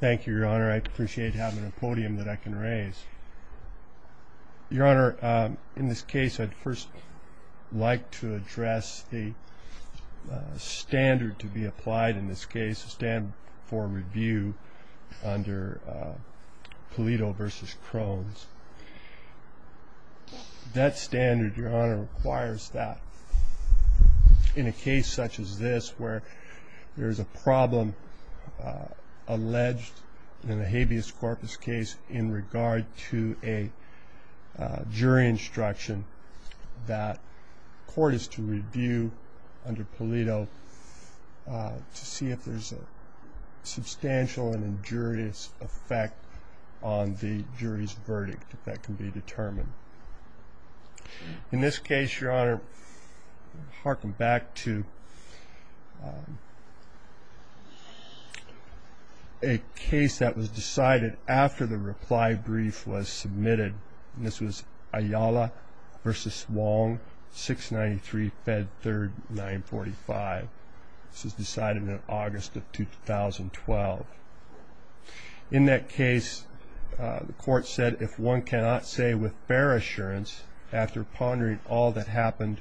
Thank you, Your Honor. I appreciate having a podium that I can raise. Your Honor, in this case, I'd first like to address the standard to be applied in this case, the standard for review under Polito v. Crones. That standard, Your Honor, requires that in a case such as this where there is a problem alleged in a habeas corpus case in regard to a jury instruction that court is to review under Polito to see if there is a substantial and injurious effect on the jury's verdict that can be determined. In this case, Your Honor, I'll harken back to a case that was decided after the reply brief was submitted. This was Ayala v. Wong, 693 Fed 3rd 945. This was decided in August of 2012. In that case, the court said, If one cannot say with fair assurance, after pondering all that happened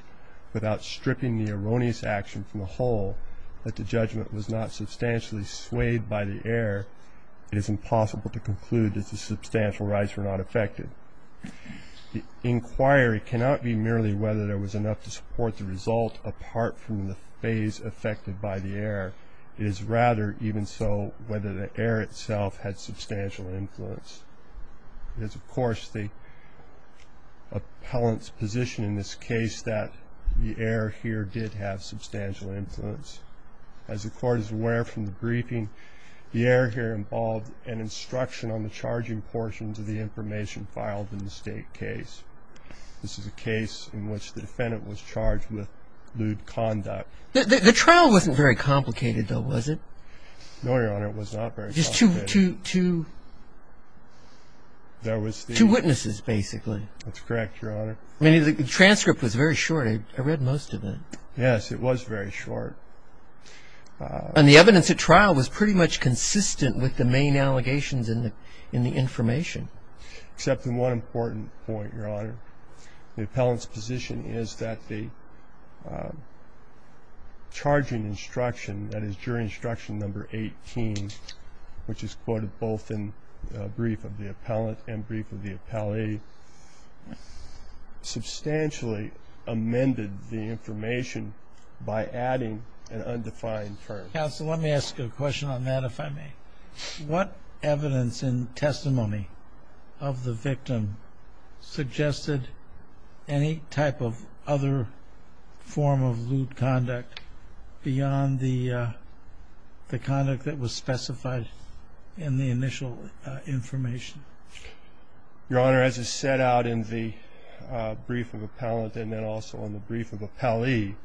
without stripping the erroneous action from the whole, that the judgment was not substantially swayed by the error, it is impossible to conclude that the substantial rights were not affected. The inquiry cannot be merely whether there was enough to support the result apart from the phase affected by the error. It is rather even so whether the error itself had substantial influence. It is, of course, the appellant's position in this case that the error here did have substantial influence. As the court is aware from the briefing, the error here involved an instruction on the charging portions of the information filed in the state case. This is a case in which the defendant was charged with lewd conduct. The trial wasn't very complicated, though, was it? No, Your Honor, it was not very complicated. Just two witnesses, basically. That's correct, Your Honor. The transcript was very short. I read most of it. Yes, it was very short. And the evidence at trial was pretty much consistent with the main allegations in the information. Except for one important point, Your Honor. The appellant's position is that the charging instruction, that is, jury instruction number 18, which is quoted both in brief of the appellant and brief of the appellee, substantially amended the information by adding an undefined term. Counsel, let me ask you a question on that, if I may. What evidence and testimony of the victim suggested any type of other form of lewd conduct beyond the conduct that was specified in the initial information? Your Honor, as is set out in the brief of appellant and then also in the brief of appellee,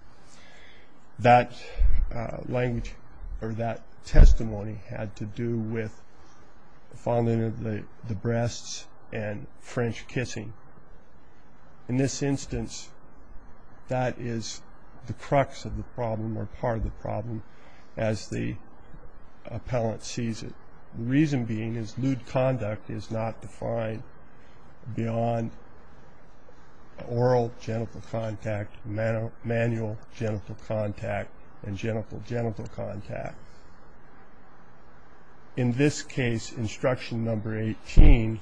that language or that testimony had to do with fondling of the breasts and French kissing. In this instance, that is the crux of the problem or part of the problem as the appellant sees it. The reason being is lewd conduct is not defined beyond oral genital contact, manual genital contact, and genital-genital contact. In this case, instruction number 18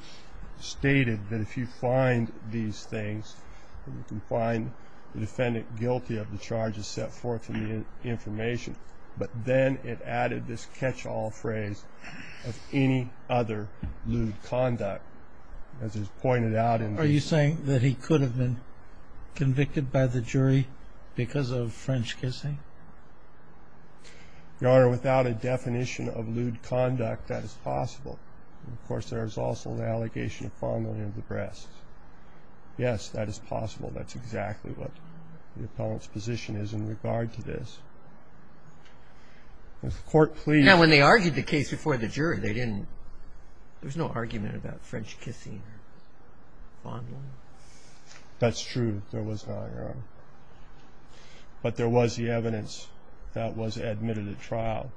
stated that if you find these things, you can find the defendant guilty of the charges set forth in the information. But then it added this catch-all phrase of any other lewd conduct. As is pointed out in the brief. Are you saying that he could have been convicted by the jury because of French kissing? Your Honor, without a definition of lewd conduct, that is possible. Of course, there is also an allegation of fondling of the breasts. Yes, that is possible. That's exactly what the appellant's position is in regard to this. When they argued the case before the jury, there was no argument about French kissing or fondling. That's true. There was not, Your Honor. But there was the evidence that was admitted at trial,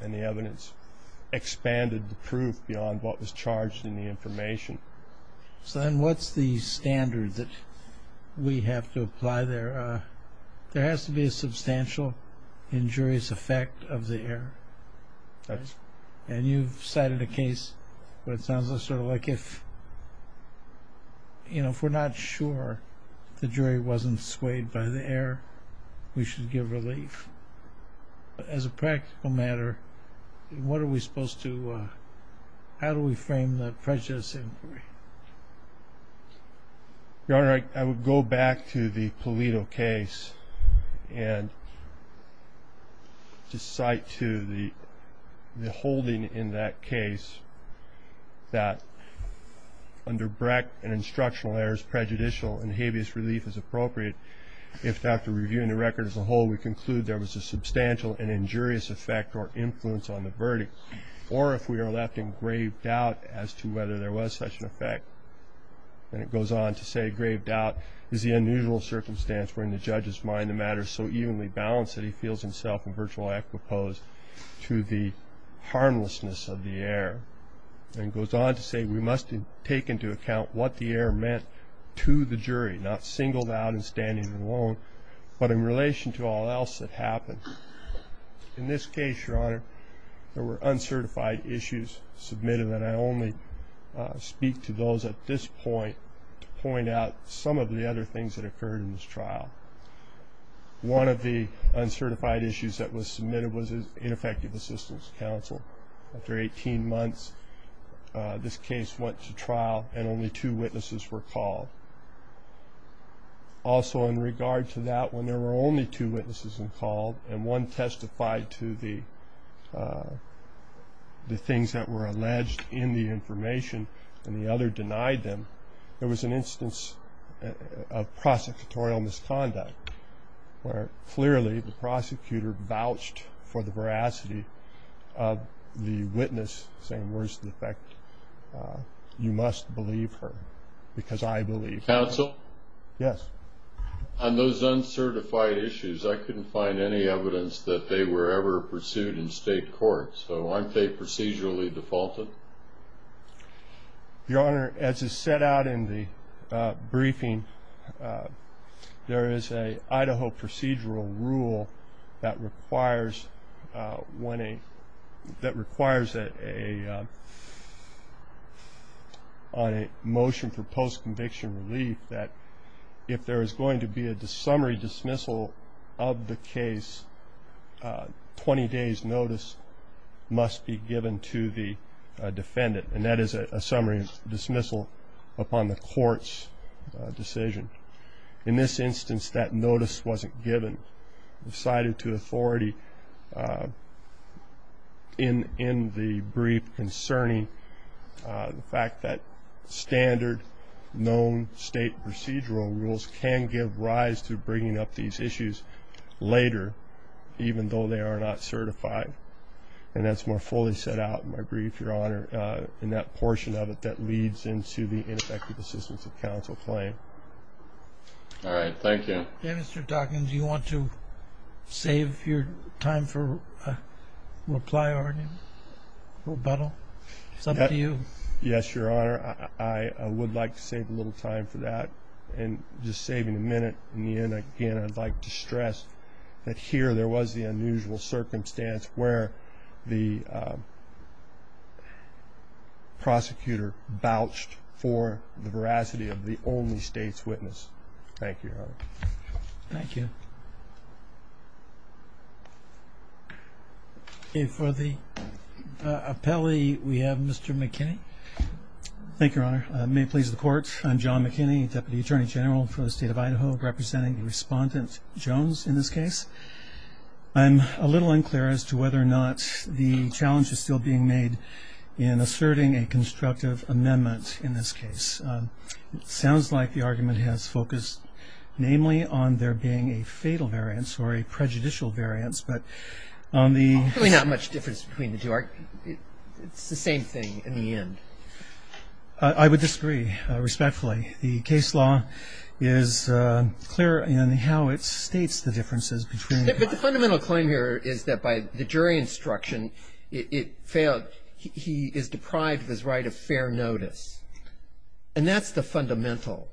and the evidence expanded the proof beyond what was charged in the information. So then what's the standard that we have to apply there? There has to be a substantial injurious effect of the error. That's right. And you've cited a case where it sounds sort of like if, you know, if we're not sure the jury wasn't swayed by the error, we should give relief. As a practical matter, what are we supposed to do? How do we frame the prejudice inquiry? Your Honor, I would go back to the Pulido case and just cite to the holding in that case that under Brecht, an instructional error is prejudicial and habeas relief is appropriate. If, after reviewing the record as a whole, we conclude there was a substantial and injurious effect or influence on the verdict, or if we are left in grave doubt as to whether there was such an effect, then it goes on to say grave doubt is the unusual circumstance wherein the judge has mined the matter so evenly balanced that he feels himself in virtual equipose to the harmlessness of the error. Then it goes on to say we must take into account what the error meant to the jury, not singled out and standing alone, but in relation to all else that happened. In this case, Your Honor, there were uncertified issues submitted, and I only speak to those at this point to point out some of the other things that occurred in this trial. One of the uncertified issues that was submitted was ineffective assistance counsel. After 18 months, this case went to trial and only two witnesses were called. Also in regard to that, when there were only two witnesses called and one testified to the things that were alleged in the information and the other denied them, there was an instance of prosecutorial misconduct where clearly the prosecutor vouched for the veracity of the witness, saying words to the effect, you must believe her because I believe her. Counsel? Yes. On those uncertified issues, I couldn't find any evidence that they were ever pursued in state court, so aren't they procedurally defaulted? Your Honor, as is set out in the briefing, there is an Idaho procedural rule that requires a motion for post-conviction relief that if there is going to be a summary dismissal of the case, 20 days' notice must be given to the defendant, and that is a summary dismissal upon the court's decision. In this instance, that notice wasn't given. It was cited to authority in the brief concerning the fact that standard known state procedural rules can give rise to bringing up these issues later, even though they are not certified, and that's more fully set out in my brief, Your Honor, in that portion of it that leads into the ineffective assistance of counsel claim. All right. Thank you. Mr. Dawkins, do you want to save your time for a reply or a rebuttal? It's up to you. Yes, Your Honor. I would like to save a little time for that, and just saving a minute in the end, again, I'd like to stress that here there was the unusual circumstance where the prosecutor vouched for the veracity of the only state's witness. Thank you, Your Honor. Thank you. For the appellee, we have Mr. McKinney. Thank you, Your Honor. May it please the Court, I'm John McKinney, Deputy Attorney General for the State of Idaho, representing Respondent Jones in this case. I'm a little unclear as to whether or not the challenge is still being made in asserting a constructive amendment in this case. It sounds like the argument has focused namely on there being a fatal variance or a prejudicial variance, but on the – Probably not much difference between the two. It's the same thing in the end. I would disagree, respectfully. The case law is clear in how it states the differences between the two. But the fundamental claim here is that by the jury instruction, it failed. He is deprived of his right of fair notice. And that's the fundamental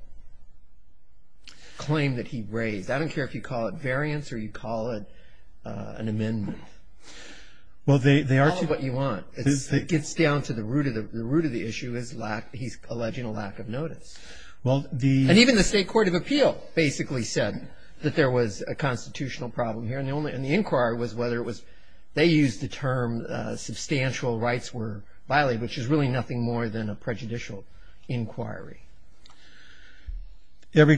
claim that he raised. I don't care if you call it variance or you call it an amendment. Well, they are two – Call it what you want. It gets down to the root of the issue, his lack – he's alleging a lack of notice. Well, the – And even the State Court of Appeal basically said that there was a constitutional problem here. And the inquiry was whether it was – they used the term substantial rights were violated, which is really nothing more than a prejudicial inquiry. And the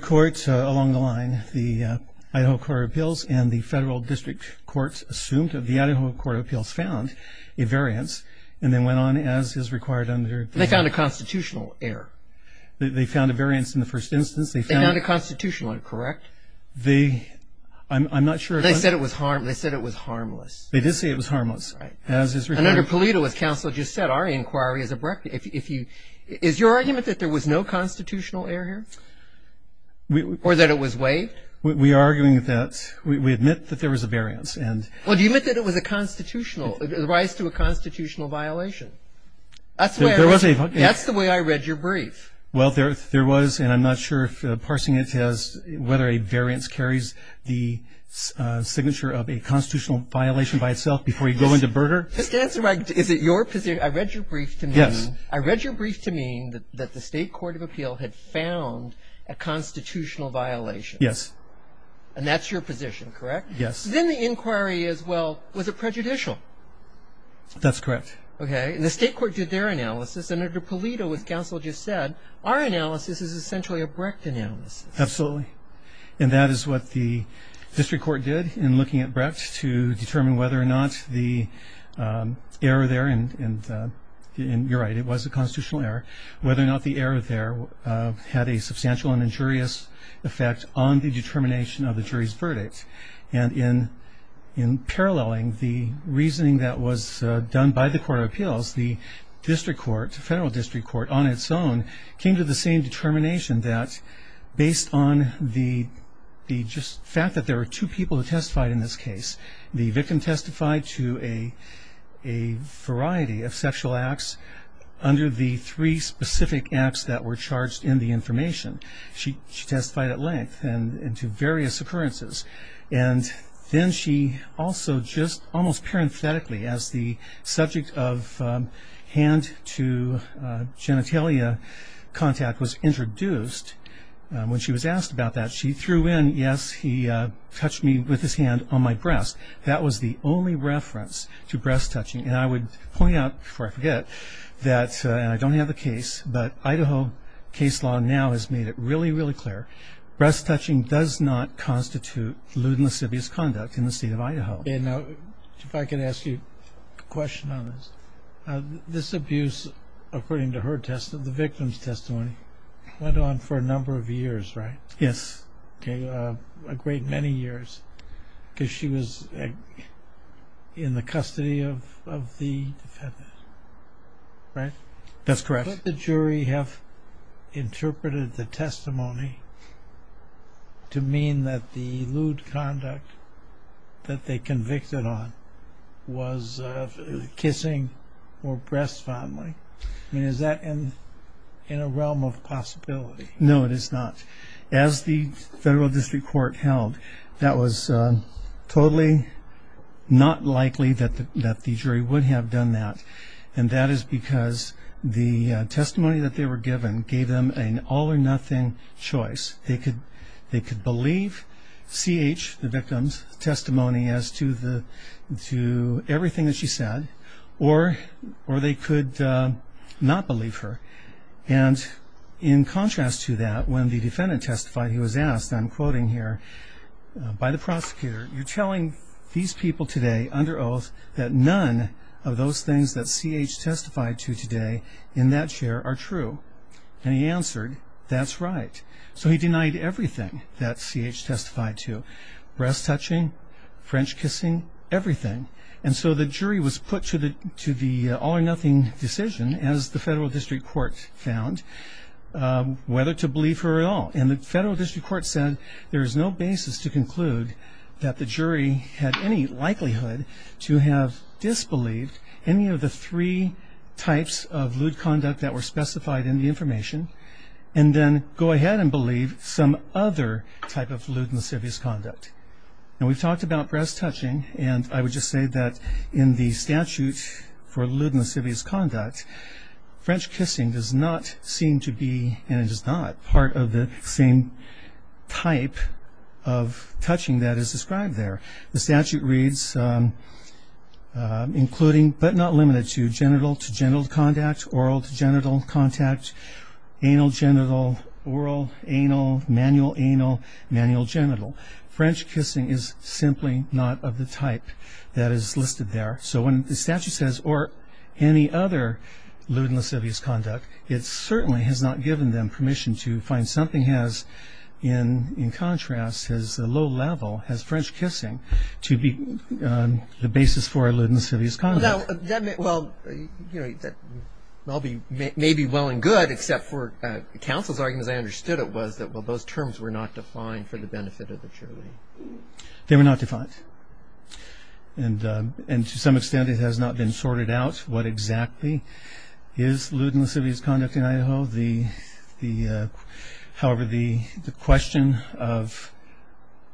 Federal District Courts assumed that the Idaho Court of Appeals found a variance and then went on as is required under – They found a constitutional error. They found a variance in the first instance. They found a constitutional error, correct? They – I'm not sure. They said it was harmless. They did say it was harmless. Right. As is required. And under Palito, as Counsel just said, our inquiry is abrupt. If you – is your argument that there was no constitutional error here? Or that it was waived? We are arguing that – we admit that there was a variance. And – Well, do you admit that it was a constitutional – it was a constitutional violation? That's where – There was a – That's the way I read your brief. Well, there was, and I'm not sure if parsing it says whether a variance carries the signature of a constitutional violation by itself before you go into murder. Just answer my – is it your – I read your brief to mean – Yes. I read your brief to mean that the State Court of Appeal had found a constitutional violation. Yes. And that's your position, correct? Yes. Then the inquiry is, well, was it prejudicial? That's correct. Okay. And the State Court did their analysis, and under Palito, as Counsel just said, our analysis is essentially a Brecht analysis. Absolutely. And that is what the district court did in looking at Brecht to determine whether or not the error there – and you're right, it was a constitutional error – whether or not the error there had a substantial and injurious effect on the determination of the jury's verdict. And in paralleling the reasoning that was done by the Court of Appeals, the district court, the federal district court on its own, came to the same determination that based on the fact that there were two people who testified in this case, the victim testified to a variety of sexual acts under the three specific acts that were charged in the information. She testified at length and to various occurrences. And then she also just almost parenthetically, as the subject of hand to genitalia contact was introduced, when she was asked about that, she threw in, yes, he touched me with his hand on my breast. That was the only reference to breast touching. And I would point out, before I forget, and I don't have the case, but Idaho case law now has made it really, really clear. Breast touching does not constitute lewd and lascivious conduct in the state of Idaho. And if I could ask you a question on this. This abuse, according to her testimony, the victim's testimony, went on for a number of years, right? Yes. A great many years, because she was in the custody of the defendant, right? That's correct. Could the jury have interpreted the testimony to mean that the lewd conduct that they convicted on was kissing or breast fondling? I mean, is that in a realm of possibility? No, it is not. As the federal district court held, that was totally not likely that the jury would have done that. And that is because the testimony that they were given gave them an all-or-nothing choice. They could believe C.H., the victim's testimony, as to everything that she said, or they could not believe her. And in contrast to that, when the defendant testified, he was asked, and I'm quoting here, by the prosecutor, you're telling these people today under oath that none of those things that C.H. testified to today in that chair are true. And he answered, that's right. So he denied everything that C.H. testified to, breast touching, French kissing, everything. And so the jury was put to the all-or-nothing decision, as the federal district court found, whether to believe her at all. And the federal district court said there is no basis to conclude that the jury had any likelihood to have disbelieved any of the three types of lewd conduct that were specified in the information, and then go ahead and believe some other type of lewd and lascivious conduct. Now we've talked about breast touching, and I would just say that in the statute for lewd and lascivious conduct, French kissing does not seem to be, and it is not, part of the same type of touching that is described there. The statute reads, including, but not limited to, genital-to-genital contact, oral-to-genital contact, anal-genital, oral-anal, manual-anal, manual-genital. French kissing is simply not of the type that is listed there. So when the statute says, or any other lewd and lascivious conduct, it certainly has not given them permission to find something has, in contrast, has a low level, has French kissing, to be the basis for lewd and lascivious conduct. Well, that may be well and good, except for counsel's argument, as I understood it, was that, well, those terms were not defined for the benefit of the jury. They were not defined. And to some extent it has not been sorted out what exactly is lewd and lascivious conduct in Idaho. However, the question of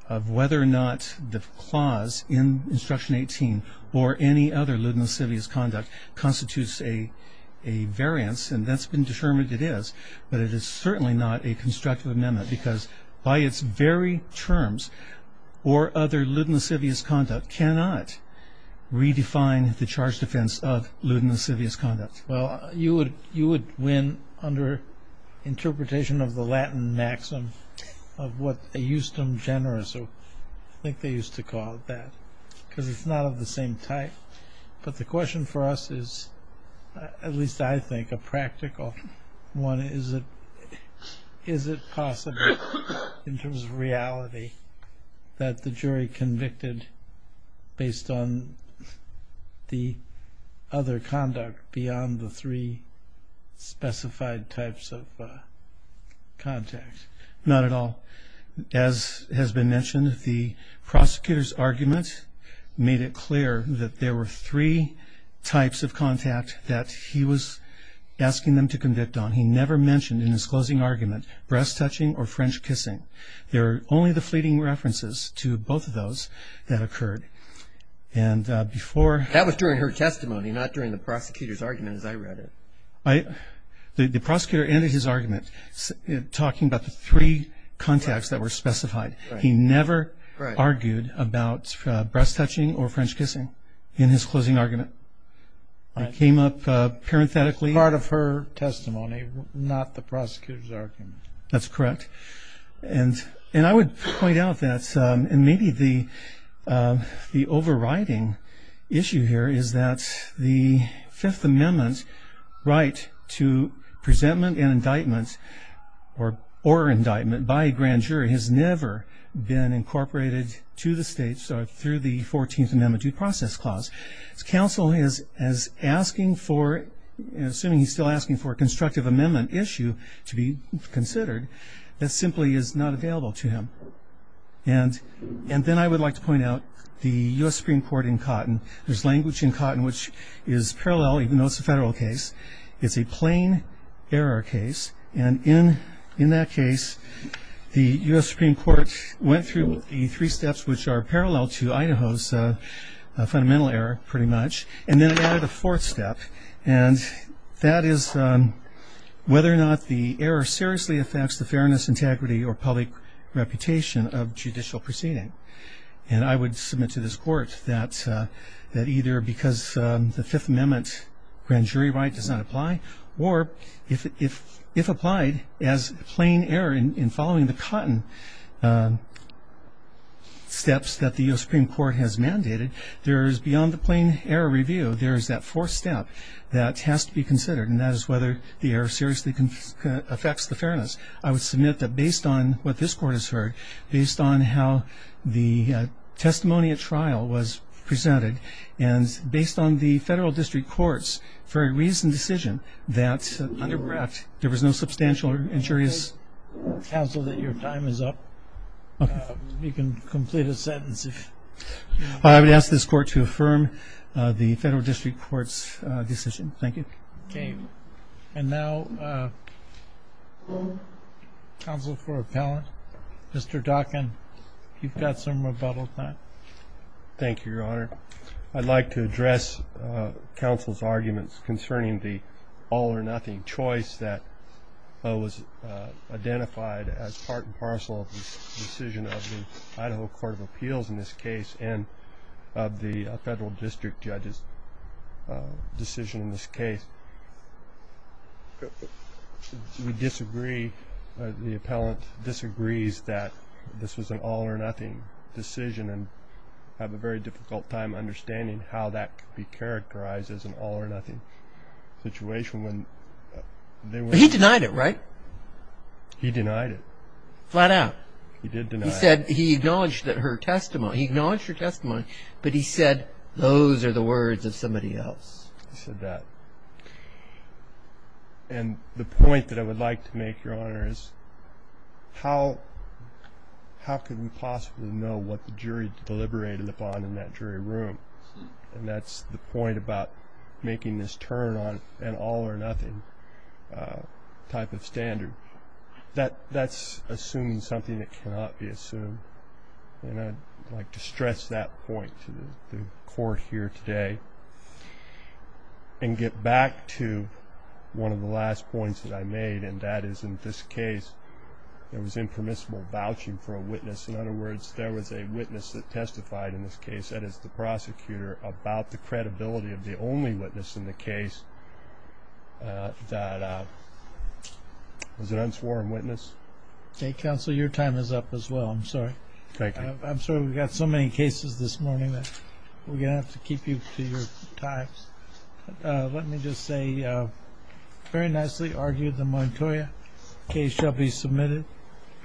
whether or not the clause in Instruction 18, or any other lewd and lascivious conduct, constitutes a variance, and that's been determined it is, but it is certainly not a constructive amendment, because by its very terms, or other lewd and lascivious conduct, cannot redefine the charge defense of lewd and lascivious conduct. Well, you would win under interpretation of the Latin maxim of what they eustem generis, or I think they used to call it that, because it's not of the same type. But the question for us is, at least I think a practical one, is it possible in terms of reality that the jury convicted based on the other conduct beyond the three specified types of context? Not at all. As has been mentioned, the prosecutor's argument made it clear that there were three types of contact that he was asking them to convict on. He never mentioned in his closing argument breast-touching or French kissing. There are only the fleeting references to both of those that occurred. That was during her testimony, not during the prosecutor's argument as I read it. The prosecutor ended his argument talking about the three contacts that were specified. He never argued about breast-touching or French kissing in his closing argument. I came up parenthetically. Part of her testimony, not the prosecutor's argument. That's correct. And I would point out that maybe the overriding issue here is that the Fifth Amendment right to presentment and indictment or indictment by a grand jury has never been incorporated to the states through the 14th Amendment Due Process Clause. As counsel is asking for, assuming he's still asking for a constructive amendment issue to be considered, that simply is not available to him. And then I would like to point out the U.S. Supreme Court in Cotton. There's language in Cotton which is parallel, even though it's a federal case. It's a plain error case. And in that case, the U.S. Supreme Court went through the three steps which are parallel to Idaho's fundamental error, pretty much. And then it added a fourth step, and that is whether or not the error seriously affects the fairness, integrity, or public reputation of judicial proceeding. And I would submit to this court that either because the Fifth Amendment grand jury right does not apply or if applied as plain error in following the Cotton steps that the U.S. Supreme Court has mandated, there is beyond the plain error review, there is that fourth step that has to be considered, and that is whether the error seriously affects the fairness. I would submit that based on what this court has heard, based on how the testimony at trial was presented, and based on the federal district court's very recent decision that under Brecht, there was no substantial injuries. Counsel, your time is up. You can complete a sentence. I would ask this court to affirm the federal district court's decision. Thank you. Okay. And now counsel for appellant, Mr. Dockin, you've got some rebuttal time. Thank you, Your Honor. I'd like to address counsel's arguments concerning the all-or-nothing choice that was identified as part and parcel of the decision of the Idaho Court of Appeals in this case and of the federal district judge's decision in this case. We disagree, the appellant disagrees that this was an all-or-nothing decision and have a very difficult time understanding how that could be characterized as an all-or-nothing situation. He denied it, right? He denied it. Flat out. He did deny it. He said he acknowledged that her testimony, he acknowledged her testimony, but he said those are the words of somebody else. He said that. And the point that I would like to make, Your Honor, is how could we possibly know what the jury deliberated upon in that jury room? And that's the point about making this turn on an all-or-nothing type of standard. That's assuming something that cannot be assumed. And I'd like to stress that point to the court here today and get back to one of the last points that I made, and that is, in this case, there was impermissible vouching for a witness. In other words, there was a witness that testified in this case, about the credibility of the only witness in the case that was an unsworn witness. Okay. Counsel, your time is up as well. I'm sorry. Thank you. I'm sorry we've got so many cases this morning that we're going to have to keep you to your time. Let me just say, very nicely argued, the Montoya case shall be submitted,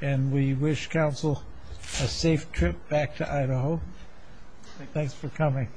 and we wish counsel a safe trip back to Idaho. Thanks for coming.